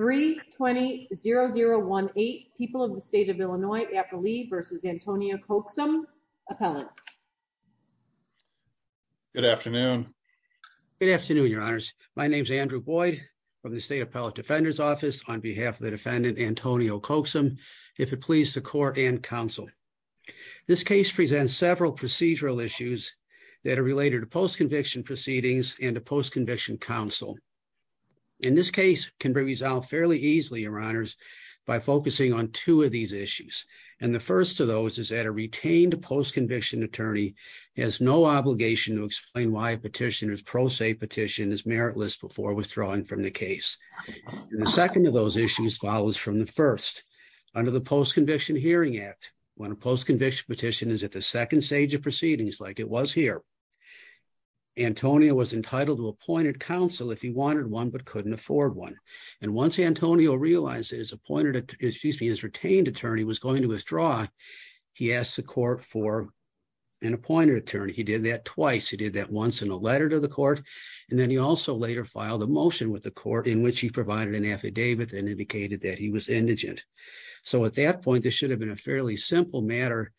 3-20-0018 People of the State of Illinois, Apolli v. Antonio Coaxum, Appellant. Good afternoon. Good afternoon, Your Honors. My name is Andrew Boyd from the State Appellate Defender's Office on behalf of the defendant, Antonio Coaxum, if it pleases the Court and Counsel. This case presents several procedural issues that are related to post-conviction proceedings and to post-conviction counsel. In this case, it can be resolved fairly easily, Your Honors, by focusing on two of these issues. And the first of those is that a retained post-conviction attorney has no obligation to explain why a petitioner's pro se petition is meritless before withdrawing from the case. The second of those issues follows from the first. Under the Post-Conviction Hearing Act, when a post-conviction petition is at the second stage of proceedings, like it was here, Antonio was entitled to appointed counsel if he wanted one but couldn't afford one. And once Antonio realized that his retained attorney was going to withdraw, he asked the Court for an appointed attorney. He did that twice. He did that once in a letter to the Court, and then he also later filed a motion with the Court in which he provided an affidavit and indicated that he was indigent. So at that point, this should have been a fairly simple matter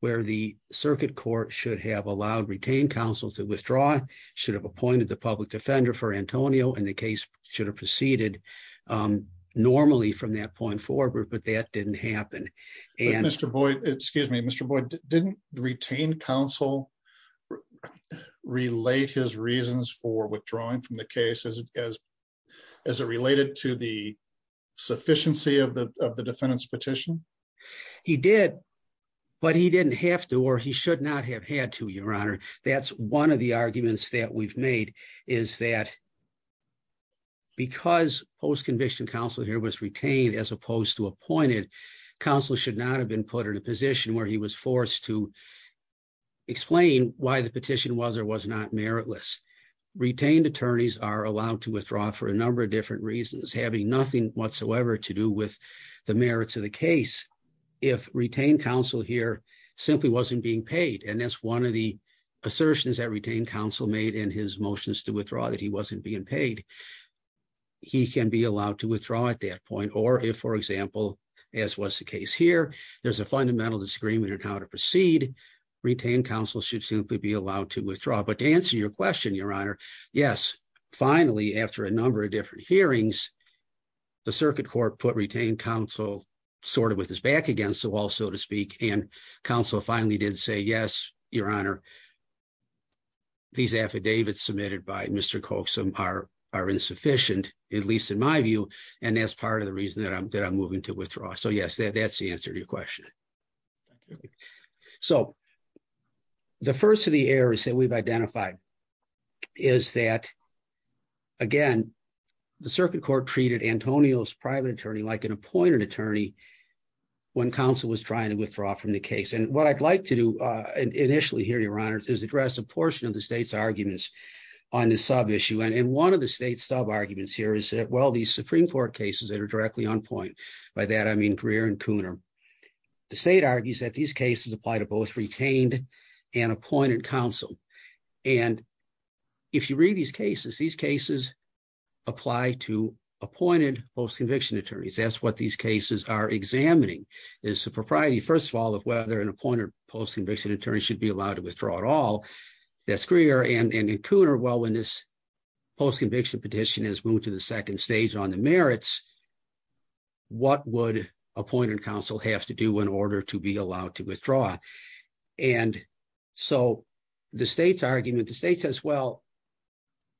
where the Circuit Court should have allowed retained counsel to withdraw, should have appointed the public defender for Antonio, and the case should have proceeded normally from that point forward, but that didn't happen. Excuse me, Mr. Boyd, didn't retained counsel relate his reasons for withdrawing from the case as it related to the sufficiency of the defendant's petition? He did, but he didn't have to or he should not have had to, Your Honor. That's one of the arguments that we've made is that because post-conviction counsel here was retained as opposed to appointed, counsel should not have been put in a position where he was forced to explain why the petition was or was not meritless. Retained attorneys are allowed to withdraw for a number of different reasons, having nothing whatsoever to do with the merits of the case. If retained counsel here simply wasn't being paid, and that's one of the assertions that retained counsel made in his motions to withdraw that he wasn't being paid, he can be allowed to withdraw at that point. Or if, for example, as was the case here, there's a fundamental disagreement on how to proceed, retained counsel should simply be allowed to withdraw. But to answer your question, Your Honor, yes, finally, after a number of different hearings, the Circuit Court put retained counsel sort of with his back against the wall, so to speak, and counsel finally did say, yes, Your Honor. These affidavits submitted by Mr. Coxum are insufficient, at least in my view, and that's part of the reason that I'm moving to withdraw. So, yes, that's the answer to your question. So, the first of the errors that we've identified is that, again, the Circuit Court treated Antonio's private attorney like an appointed attorney when counsel was trying to withdraw from the case. And what I'd like to do initially here, Your Honor, is address a portion of the state's arguments on this sub-issue. And one of the state's sub-arguments here is that, well, these Supreme Court cases that are directly on point, by that I mean Greer and Cooner, the state argues that these cases apply to both retained and appointed counsel. And if you read these cases, these cases apply to appointed post-conviction attorneys. That's what these cases are examining. It's the propriety, first of all, of whether an appointed post-conviction attorney should be allowed to withdraw at all. That's Greer. And in Cooner, well, when this post-conviction petition is moved to the second stage on the merits, what would appointed counsel have to do in order to be allowed to withdraw? And so, the state's argument, the state says, well,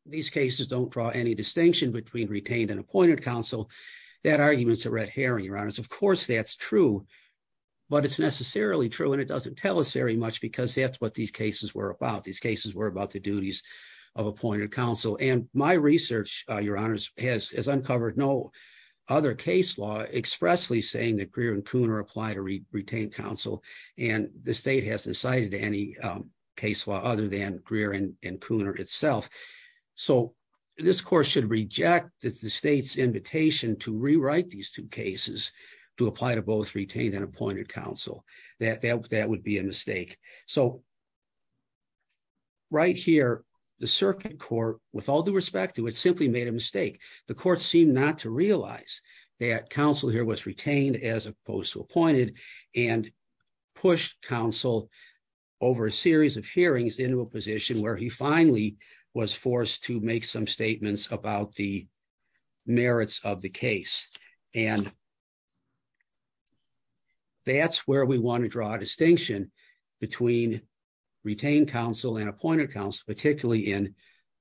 these cases don't draw any distinction between retained and appointed counsel. That argument's a red herring, Your Honors. Of course, that's true, but it's necessarily true and it doesn't tell us very much because that's what these cases were about. These cases were about the duties of appointed counsel. And my research, Your Honors, has uncovered no other case law expressly saying that Greer and Cooner apply to retained counsel, and the state hasn't cited any case law other than Greer and Cooner itself. So, this Court should reject the state's invitation to rewrite these two cases to apply to both retained and appointed counsel. That would be a mistake. So, right here, the Circuit Court, with all due respect to it, simply made a mistake. The Court seemed not to realize that counsel here was retained as opposed to appointed and pushed counsel over a series of hearings into a position where he finally was forced to make some statements about the merits of the case. And that's where we want to draw a distinction between retained counsel and appointed counsel, particularly in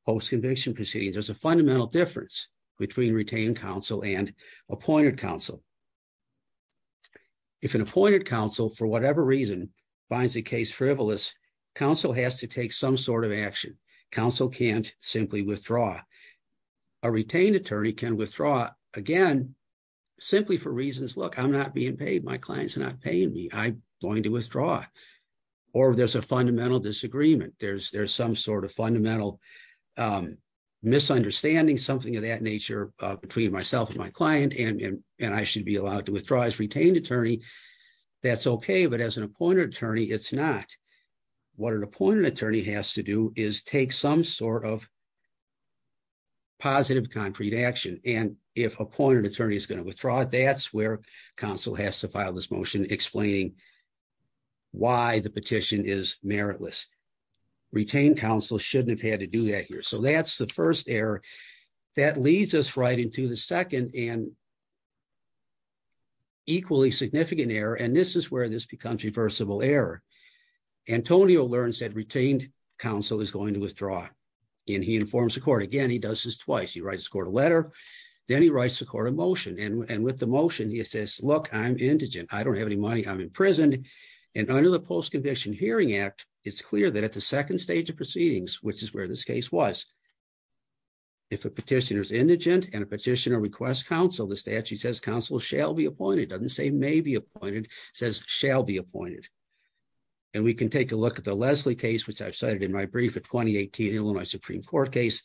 post-conviction proceedings. There's a fundamental difference between retained counsel and appointed counsel. If an appointed counsel, for whatever reason, finds a case frivolous, counsel has to take some sort of action. Counsel can't simply withdraw. A retained attorney can withdraw, again, simply for reasons, look, I'm not being paid, my clients are not paying me, I'm going to withdraw. Or there's a fundamental disagreement. There's some sort of fundamental misunderstanding, something of that nature, between myself and my client, and I should be allowed to withdraw as retained attorney. That's okay, but as an appointed attorney, it's not. What an appointed attorney has to do is take some sort of positive concrete action. And if appointed attorney is going to withdraw, that's where counsel has to file this motion explaining why the petition is meritless. Retained counsel shouldn't have had to do that here. So that's the first error. That leads us right into the second and equally significant error, and this is where this becomes reversible error. Antonio learns that retained counsel is going to withdraw, and he informs the court. Again, he does this twice. He writes the court a letter, then he writes the court a motion, and with the motion, he says, look, I'm indigent, I don't have any money, I'm imprisoned. And under the Post-Conviction Hearing Act, it's clear that at the second stage of proceedings, which is where this case was, if a petitioner is indigent and a petitioner requests counsel, the statute says counsel shall be appointed. It doesn't say may be appointed, it says shall be appointed. And we can take a look at the Leslie case, which I've cited in my brief, the 2018 Illinois Supreme Court case,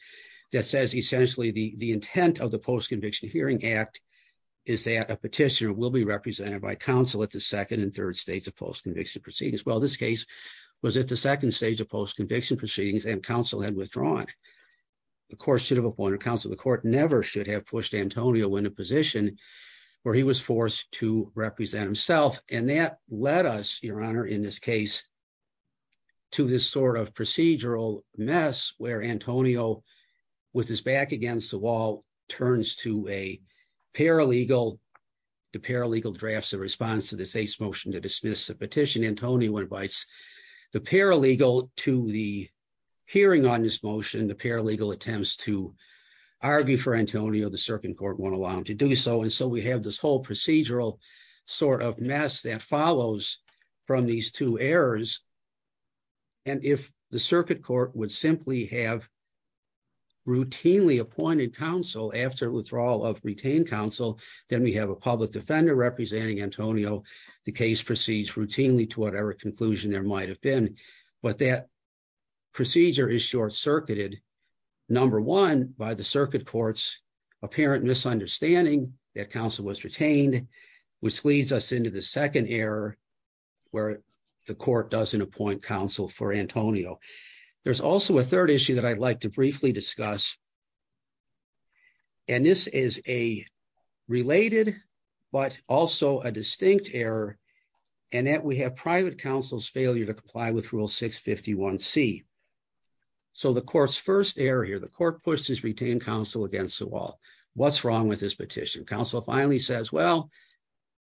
that says essentially the intent of the Post-Conviction Hearing Act is that a petitioner will be represented by counsel at the second and third stage of post-conviction proceedings. Well, this case was at the second stage of post-conviction proceedings and counsel had withdrawn. The court should have appointed counsel. The court never should have pushed Antonio in a position where he was forced to represent himself. And that led us, Your Honor, in this case, to this sort of procedural mess where Antonio, with his back against the wall, turns to a paralegal. The paralegal drafts a response to the state's motion to dismiss the petition. Antonio invites the paralegal to the hearing on this motion. The paralegal attempts to argue for Antonio. The circuit court won't allow him to do so. And so we have this whole procedural sort of mess that follows from these two errors. And if the circuit court would simply have routinely appointed counsel after withdrawal of retained counsel, then we have a public defender representing Antonio. The case proceeds routinely to whatever conclusion there might have been. But that procedure is short-circuited. Number one, by the circuit court's apparent misunderstanding that counsel was retained, which leads us into the second error where the court doesn't appoint counsel for Antonio. There's also a third issue that I'd like to briefly discuss. And this is a related but also a distinct error in that we have private counsel's failure to comply with Rule 651C. So the court's first error here, the court pushes retained counsel against the wall. What's wrong with this petition? Counsel finally says, well,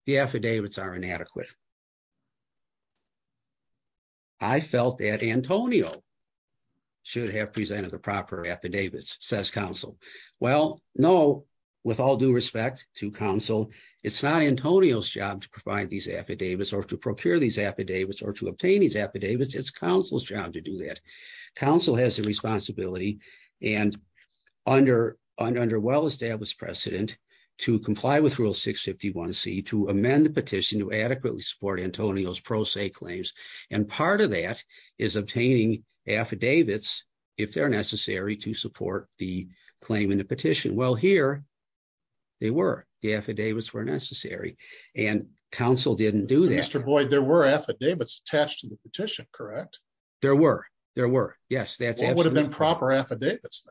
the affidavits are inadequate. I felt that Antonio should have presented the proper affidavits, says counsel. Well, no, with all due respect to counsel, it's not Antonio's job to provide these affidavits or to procure these affidavits or to obtain these affidavits. It's counsel's job to do that. Counsel has the responsibility and under well-established precedent to comply with Rule 651C to amend the petition to adequately support Antonio's pro se claims. And part of that is obtaining affidavits if they're necessary to support the claim in the petition. Well, here they were. The affidavits were necessary and counsel didn't do that. Mr. Boyd, there were affidavits attached to the petition, correct? There were. There were. Yes. What would have been proper affidavits?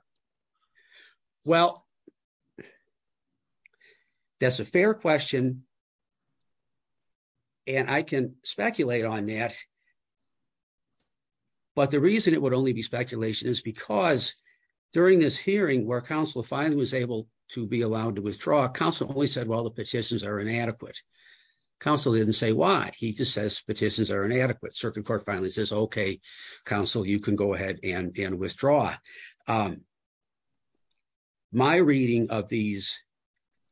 Well, that's a fair question. And I can speculate on that. But the reason it would only be speculation is because during this hearing where counsel finally was able to be allowed to withdraw, counsel only said, well, the petitions are inadequate. Counsel didn't say why. He just says petitions are inadequate. Circuit Court finally says, OK, counsel, you can go ahead and withdraw. My reading of these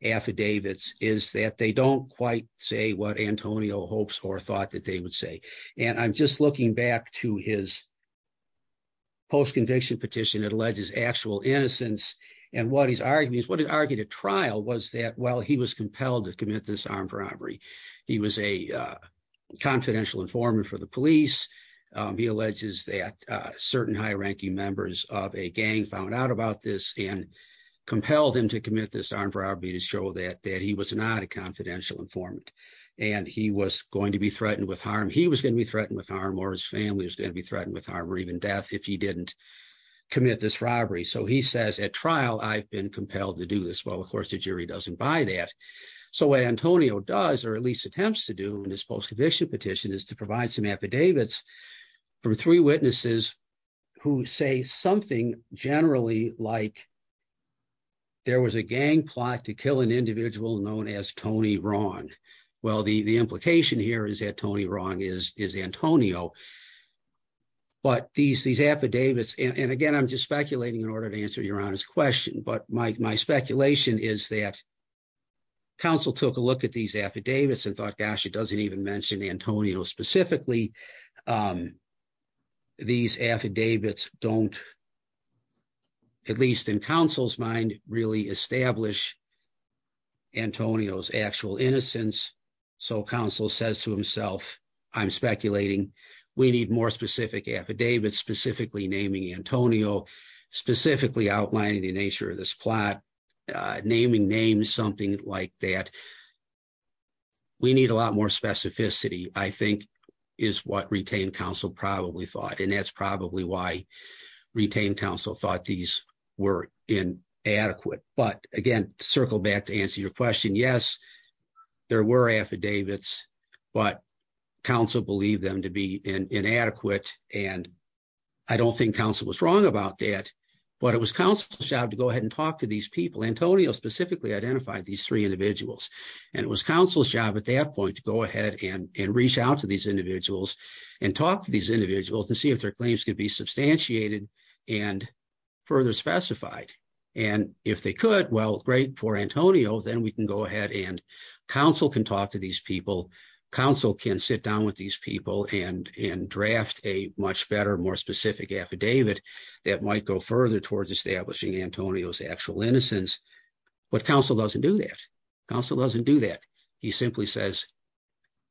affidavits is that they don't quite say what Antonio hopes or thought that they would say. And I'm just looking back to his post-conviction petition that alleges actual innocence. And what he's arguing is what he argued at trial was that while he was compelled to commit this armed robbery, he was a confidential informant for the police. He alleges that certain high ranking members of a gang found out about this and compelled him to commit this armed robbery to show that that he was not a confidential informant and he was going to be threatened with harm. He was going to be threatened with harm or his family was going to be threatened with harm or even death if he didn't commit this robbery. So he says at trial, I've been compelled to do this. Well, of course, the jury doesn't buy that. So what Antonio does or at least attempts to do in this post-conviction petition is to provide some affidavits from three witnesses who say something generally like. There was a gang plot to kill an individual known as Tony Ron. Well, the implication here is that Tony Ron is Antonio. But these affidavits and again, I'm just speculating in order to answer your honest question, but my speculation is that. Council took a look at these affidavits and thought, gosh, it doesn't even mention Antonio specifically. These affidavits don't. At least in counsel's mind, really establish. Antonio's actual innocence. So counsel says to himself, I'm speculating. We need more specific affidavits, specifically naming Antonio, specifically outlining the nature of this plot, naming names, something like that. We need a lot more specificity, I think, is what retained counsel probably thought, and that's probably why retained counsel thought these were inadequate. But again, circle back to answer your question. Yes, there were affidavits, but counsel believed them to be inadequate. And I don't think counsel was wrong about that, but it was counsel's job to go ahead and talk to these people. Antonio specifically identified these three individuals, and it was counsel's job at that point to go ahead and reach out to these individuals and talk to these individuals to see if their claims could be substantiated and further specified. And if they could, well, great for Antonio, then we can go ahead and counsel can talk to these people. Counsel can sit down with these people and draft a much better, more specific affidavit that might go further towards establishing Antonio's actual innocence. But counsel doesn't do that. Counsel doesn't do that. He simply says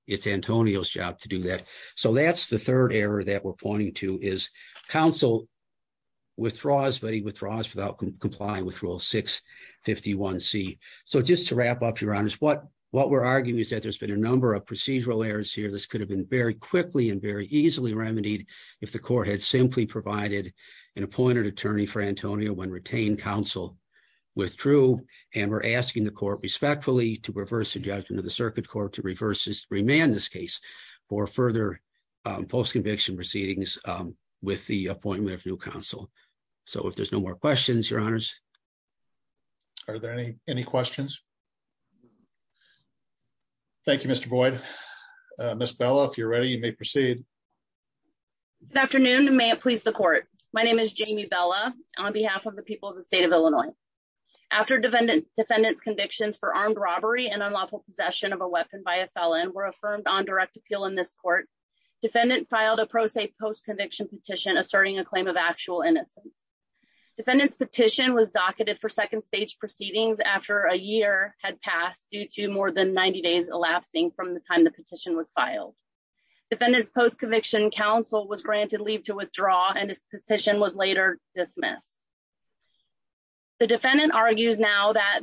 it's Antonio's job to do that. So that's the third error that we're pointing to is counsel withdraws, but he withdraws without complying with Rule 651C. So just to wrap up, Your Honors, what we're arguing is that there's been a number of procedural errors here. This could have been very quickly and very easily remedied if the court had simply provided an appointed attorney for Antonio when retained, counsel withdrew. And we're asking the court respectfully to reverse the judgment of the circuit court to remand this case for further postconviction proceedings with the appointment of new counsel. So if there's no more questions, Your Honors. Are there any questions? Thank you, Mr. Boyd. Ms. Bella, if you're ready, you may proceed. Good afternoon and may it please the court. My name is Jamie Bella on behalf of the people of the state of Illinois. After defendant's convictions for armed robbery and unlawful possession of a weapon by a felon were affirmed on direct appeal in this court, defendant filed a pro se postconviction petition asserting a claim of actual innocence. Defendant's petition was docketed for second stage proceedings after a year had passed due to more than 90 days elapsing from the time the petition was filed. Defendant's postconviction counsel was granted leave to withdraw and his petition was later dismissed. The defendant argues now that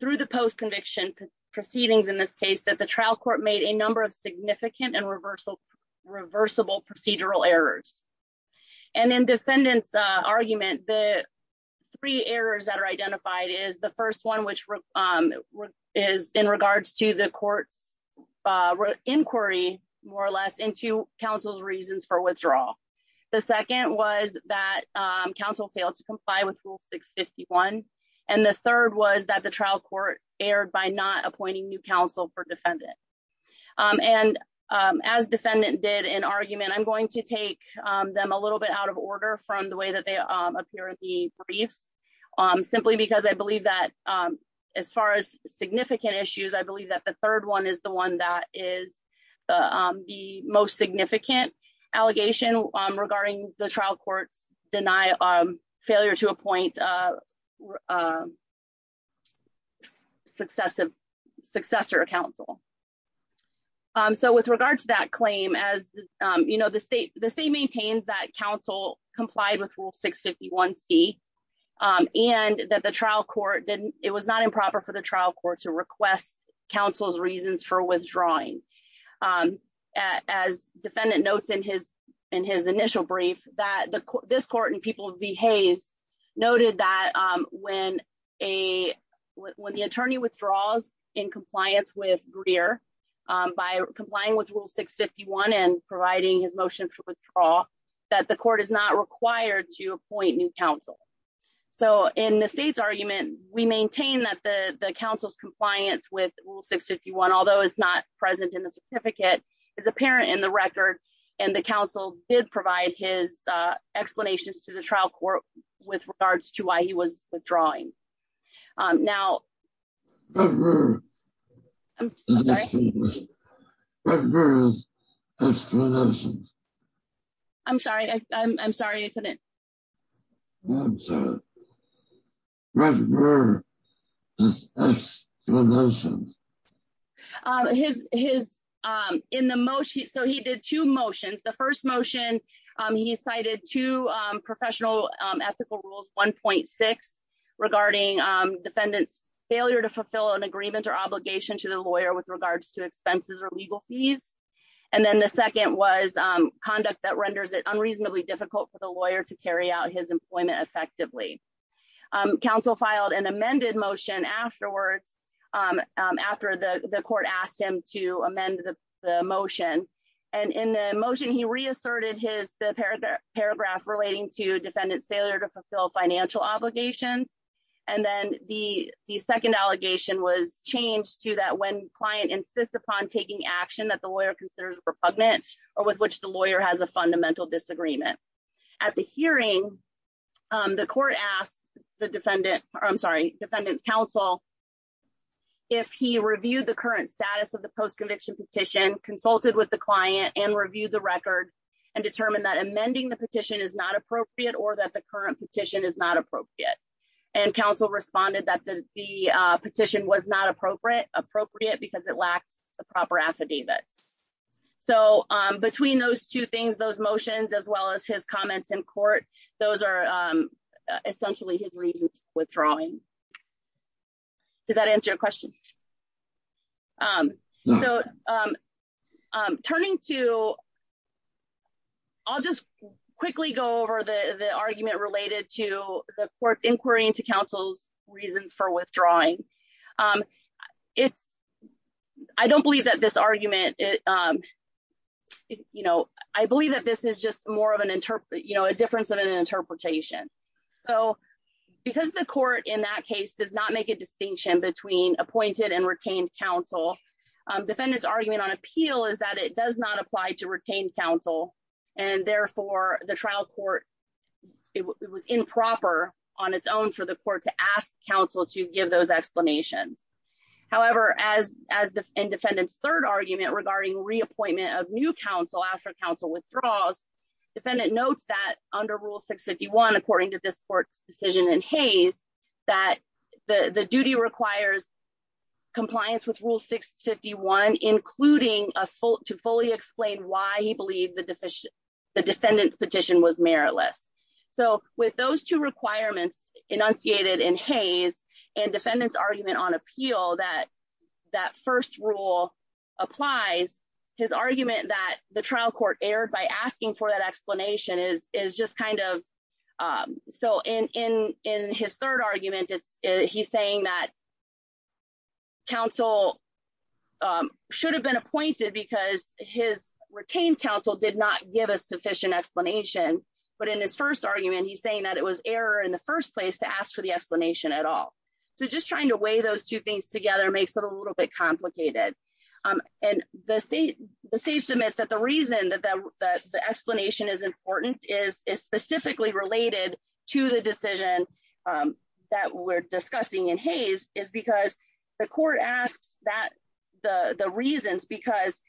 through the postconviction proceedings in this case that the trial court made a number of significant and reversible procedural errors. And in defendant's argument, the three errors that are identified is the first one, which is in regards to the court's inquiry, more or less, into counsel's reasons for withdrawal. The second was that counsel failed to comply with Rule 651. And the third was that the trial court erred by not appointing new counsel for defendant. And as defendant did in argument, I'm going to take them a little bit out of order from the way that they appear in the briefs. Simply because I believe that as far as significant issues, I believe that the third one is the one that is the most significant allegation regarding the trial court's failure to appoint successor counsel. So with regards to that claim, as you know, the state maintains that counsel complied with Rule 651C and that the trial court didn't, it was not improper for the trial court to request counsel's reasons for withdrawing. As defendant notes in his initial brief, that this court in People v. Hayes noted that when the attorney withdraws in compliance with Greer, by complying with Rule 651 and providing his motion for withdrawal, that the court is not required to appoint new counsel. So in the state's argument, we maintain that the counsel's compliance with Rule 651, although it's not present in the certificate, is apparent in the record. And the counsel did provide his explanations to the trial court with regards to why he was withdrawing. Now... I'm sorry. I'm sorry I couldn't... I'm sorry. What were his explanations? Counsel filed an amended motion afterwards, after the court asked him to amend the motion. And in the motion, he reasserted his paragraph relating to defendant's failure to fulfill financial obligations. And then the second allegation was changed to that when client insists upon taking action that the lawyer considers repugnant or with which the lawyer has a fundamental disagreement. At the hearing, the court asked the defendant, I'm sorry, defendant's counsel, if he reviewed the current status of the post-conviction petition, consulted with the client, and reviewed the record, and determined that amending the petition is not appropriate or that the current petition is not appropriate. And counsel responded that the petition was not appropriate because it lacks the proper affidavits. So between those two things, those motions, as well as his comments in court, those are essentially his reasons for withdrawing. Does that answer your question? Turning to... I'll just quickly go over the argument related to the court's inquiry into counsel's reasons for withdrawing. I don't believe that this argument... I believe that this is just more of a difference of an interpretation. So because the court in that case does not make a distinction between appointed and retained counsel, defendant's argument on appeal is that it does not apply to retained counsel. And therefore, the trial court, it was improper on its own for the court to ask counsel to give those explanations. However, as in defendant's third argument regarding reappointment of new counsel after counsel withdraws, defendant notes that under Rule 651, according to this court's decision in Hays, that the duty requires compliance with Rule 651, including to fully explain why he believed the defendant's petition was meritless. So with those two requirements enunciated in Hays and defendant's argument on appeal that that first rule applies, his argument that the trial court erred by asking for that explanation is just kind of... So in his third argument, he's saying that counsel should have been appointed because his retained counsel did not give a sufficient explanation. But in his first argument, he's saying that it was error in the first place to ask for the explanation at all. So just trying to weigh those two things together makes it a little bit complicated. And the state submits that the reason that the explanation is important is specifically related to the decision that we're discussing in Hays, is because the court asks the reasons because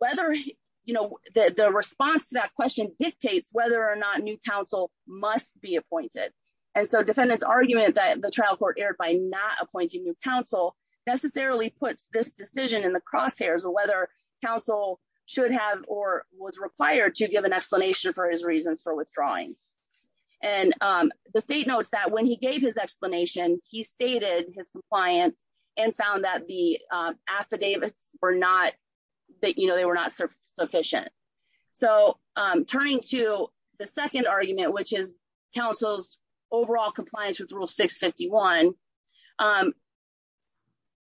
the response to that question dictates whether or not new counsel must be appointed. And so defendant's argument that the trial court erred by not appointing new counsel necessarily puts this decision in the crosshairs of whether counsel should have or was required to give an explanation for his reasons for withdrawing. And the state notes that when he gave his explanation, he stated his compliance and found that the affidavits were not sufficient. So turning to the second argument, which is counsel's overall compliance with Rule 651,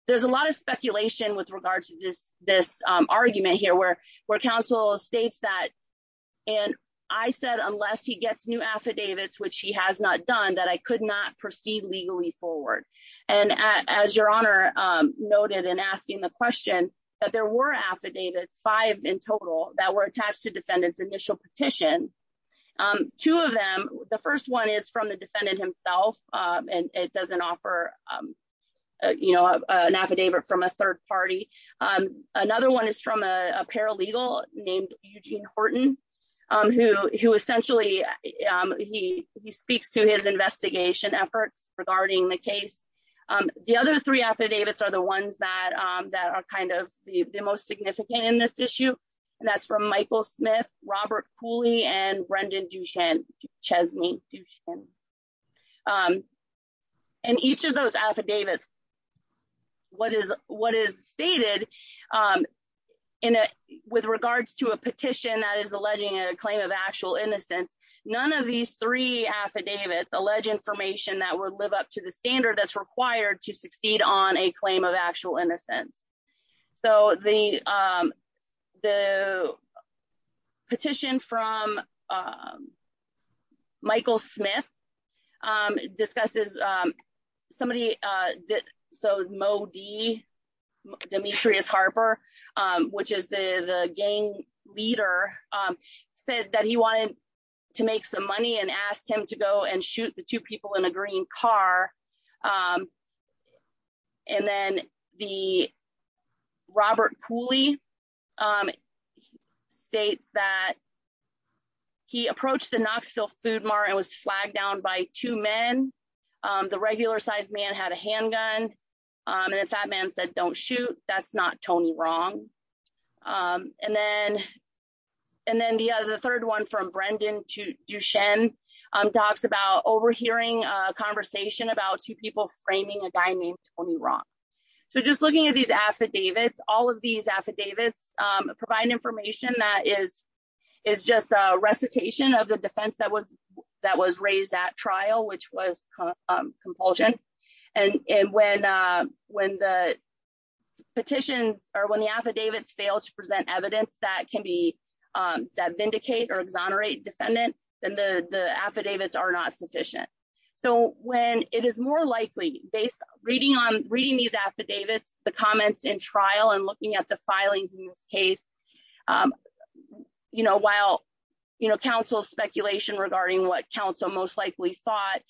there's a lot of speculation with regards to this argument here where counsel states that, and I said, unless he gets new affidavits, which he has not done, that I could not proceed legally forward. And as Your Honor noted in asking the question, that there were affidavits, five in total, that were attached to defendant's initial petition. Two of them, the first one is from the defendant himself, and it doesn't offer an affidavit from a third party. Another one is from a paralegal named Eugene Horton, who essentially, he speaks to his investigation efforts regarding the case. The other three affidavits are the ones that are kind of the most significant in this issue. And that's from Michael Smith, Robert Cooley, and Brendan Duchesne. And each of those affidavits, what is stated with regards to a petition that is alleging a claim of actual innocence, none of these three affidavits allege information that would live up to the standard that's required to succeed on a claim of actual innocence. So the petition from Michael Smith discusses somebody, so Moe D, Demetrius Harper, which is the gang leader, said that he wanted to make some money and asked him to go and shoot the two people in a green car. And then the Robert Cooley states that he approached the Knoxville Food Mart and was flagged down by two men. The regular sized man had a handgun, and the fat man said, don't shoot, that's not Tony wrong. And then the third one from Brendan Duchesne talks about overhearing a conversation about two people framing a guy named Tony wrong. So just looking at these affidavits, all of these affidavits provide information that is just a recitation of the defense that was raised at trial, which was compulsion. And when the petitions or when the affidavits fail to present evidence that vindicate or exonerate defendant, then the affidavits are not sufficient. So when it is more likely, based on reading these affidavits, the comments in trial and looking at the filings in this case, while counsel's speculation regarding what counsel most likely thought,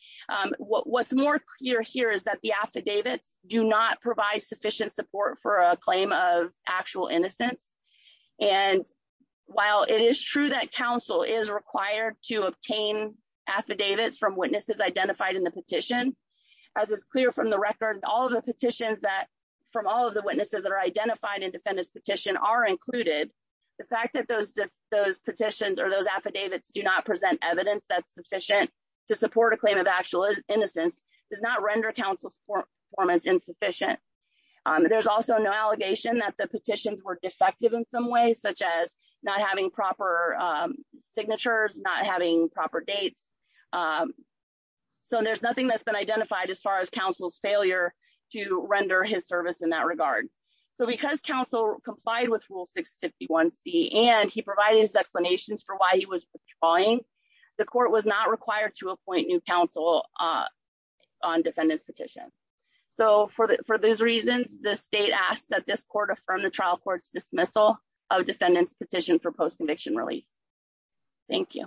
what's more clear here is that the affidavits do not provide sufficient support for a claim of actual innocence. And while it is true that counsel is required to obtain affidavits from witnesses identified in the petition, as is clear from the record, all of the petitions that from all of the witnesses that are identified in defendant's petition are included. The fact that those petitions or those affidavits do not present evidence that's sufficient to support a claim of actual innocence does not render counsel's performance insufficient. There's also no allegation that the petitions were defective in some ways, such as not having proper signatures, not having proper dates. So there's nothing that's been identified as far as counsel's failure to render his service in that regard. So because counsel complied with Rule 651C and he provided his explanations for why he was withdrawing, the court was not required to appoint new counsel on defendant's petition. So for those reasons, the state asks that this court affirm the trial court's dismissal of defendant's petition for post-conviction relief. Thank you.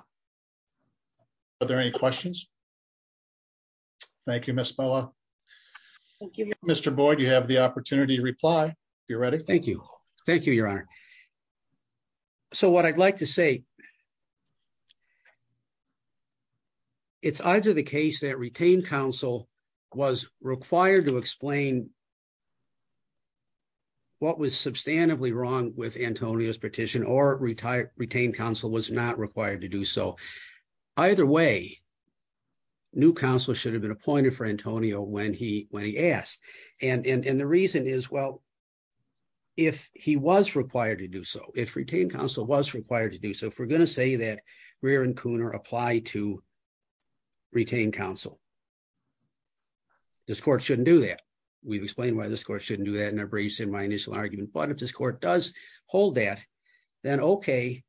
Are there any questions? Thank you, Ms. Mello. Thank you. Mr. Boyd, you have the opportunity to reply if you're ready. Thank you. Thank you, Your Honor. So what I'd like to say, it's either the case that retained counsel was required to explain what was substantively wrong with Antonio's petition or retained counsel was not required to do so. Either way, new counsel should have been appointed for Antonio when he asked. And the reason is, well, if he was required to do so, if retained counsel was required to do so, if we're going to say that Rear and Cooner apply to retained counsel, this court shouldn't do that. We've explained why this court shouldn't do that in our briefs in my initial argument, but if this court does hold that, then okay,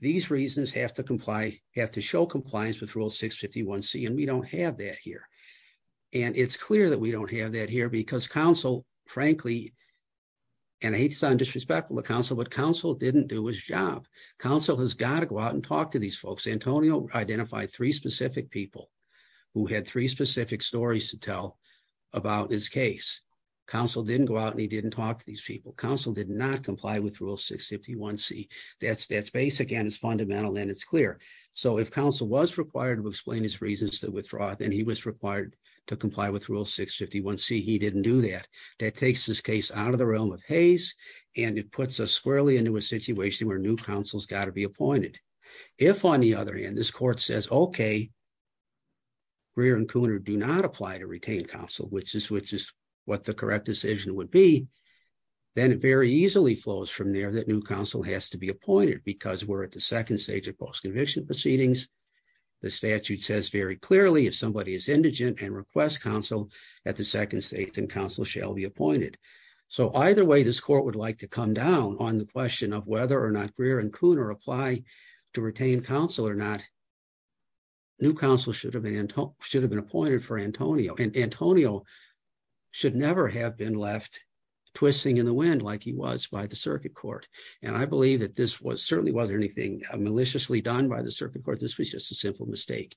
these reasons have to comply, have to show compliance with Rule 651C, and we don't have that here. And it's clear that we don't have that here because counsel, frankly, and I hate to sound disrespectful to counsel, but counsel didn't do his job. Counsel has got to go out and talk to these folks. Antonio identified three specific people who had three specific stories to tell about his case. Counsel didn't go out and he didn't talk to these people. Counsel did not comply with Rule 651C. That's basic and it's fundamental and it's clear. So if counsel was required to explain his reasons to withdraw, then he was required to comply with Rule 651C, he didn't do that. That takes this case out of the realm of Hays and it puts us squarely into a situation where new counsel's got to be appointed. If, on the other hand, this court says, okay, Greer and Cooner do not apply to retain counsel, which is what the correct decision would be, then it very easily flows from there that new counsel has to be appointed because we're at the second stage of post-conviction proceedings. The statute says very clearly if somebody is indigent and requests counsel at the second stage, then counsel shall be appointed. So either way, this court would like to come down on the question of whether or not Greer and Cooner apply to retain counsel or not, new counsel should have been appointed for Antonio. And Antonio should never have been left twisting in the wind like he was by the circuit court. And I believe that this was certainly wasn't anything maliciously done by the circuit court, this was just a simple mistake.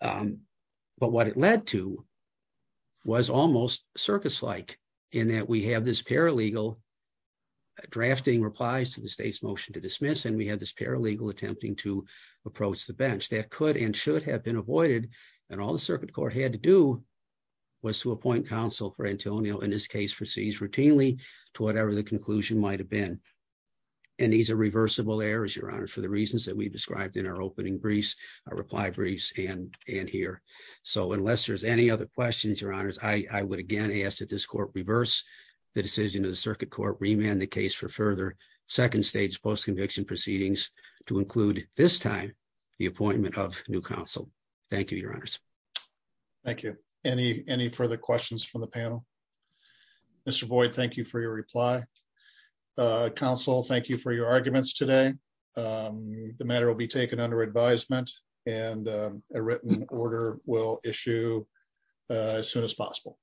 But what it led to was almost circus-like in that we have this paralegal drafting replies to the state's motion to dismiss and we have this paralegal attempting to approach the bench. That could and should have been avoided and all the circuit court had to do was to appoint counsel for Antonio, in this case for Seas, routinely to whatever the conclusion might have been. And these are reversible errors, Your Honor, for the reasons that we've described in our opening briefs, our reply briefs, and here. So unless there's any other questions, Your Honors, I would again ask that this court reverse the decision of the circuit court, remand the case for further second stage post-conviction proceedings to include, this time, the appointment of new counsel. Thank you, Your Honors. Thank you. Any further questions from the panel? Mr. Boyd, thank you for your reply. Counsel, thank you for your arguments today. The matter will be taken under advisement and a written order will issue as soon as possible.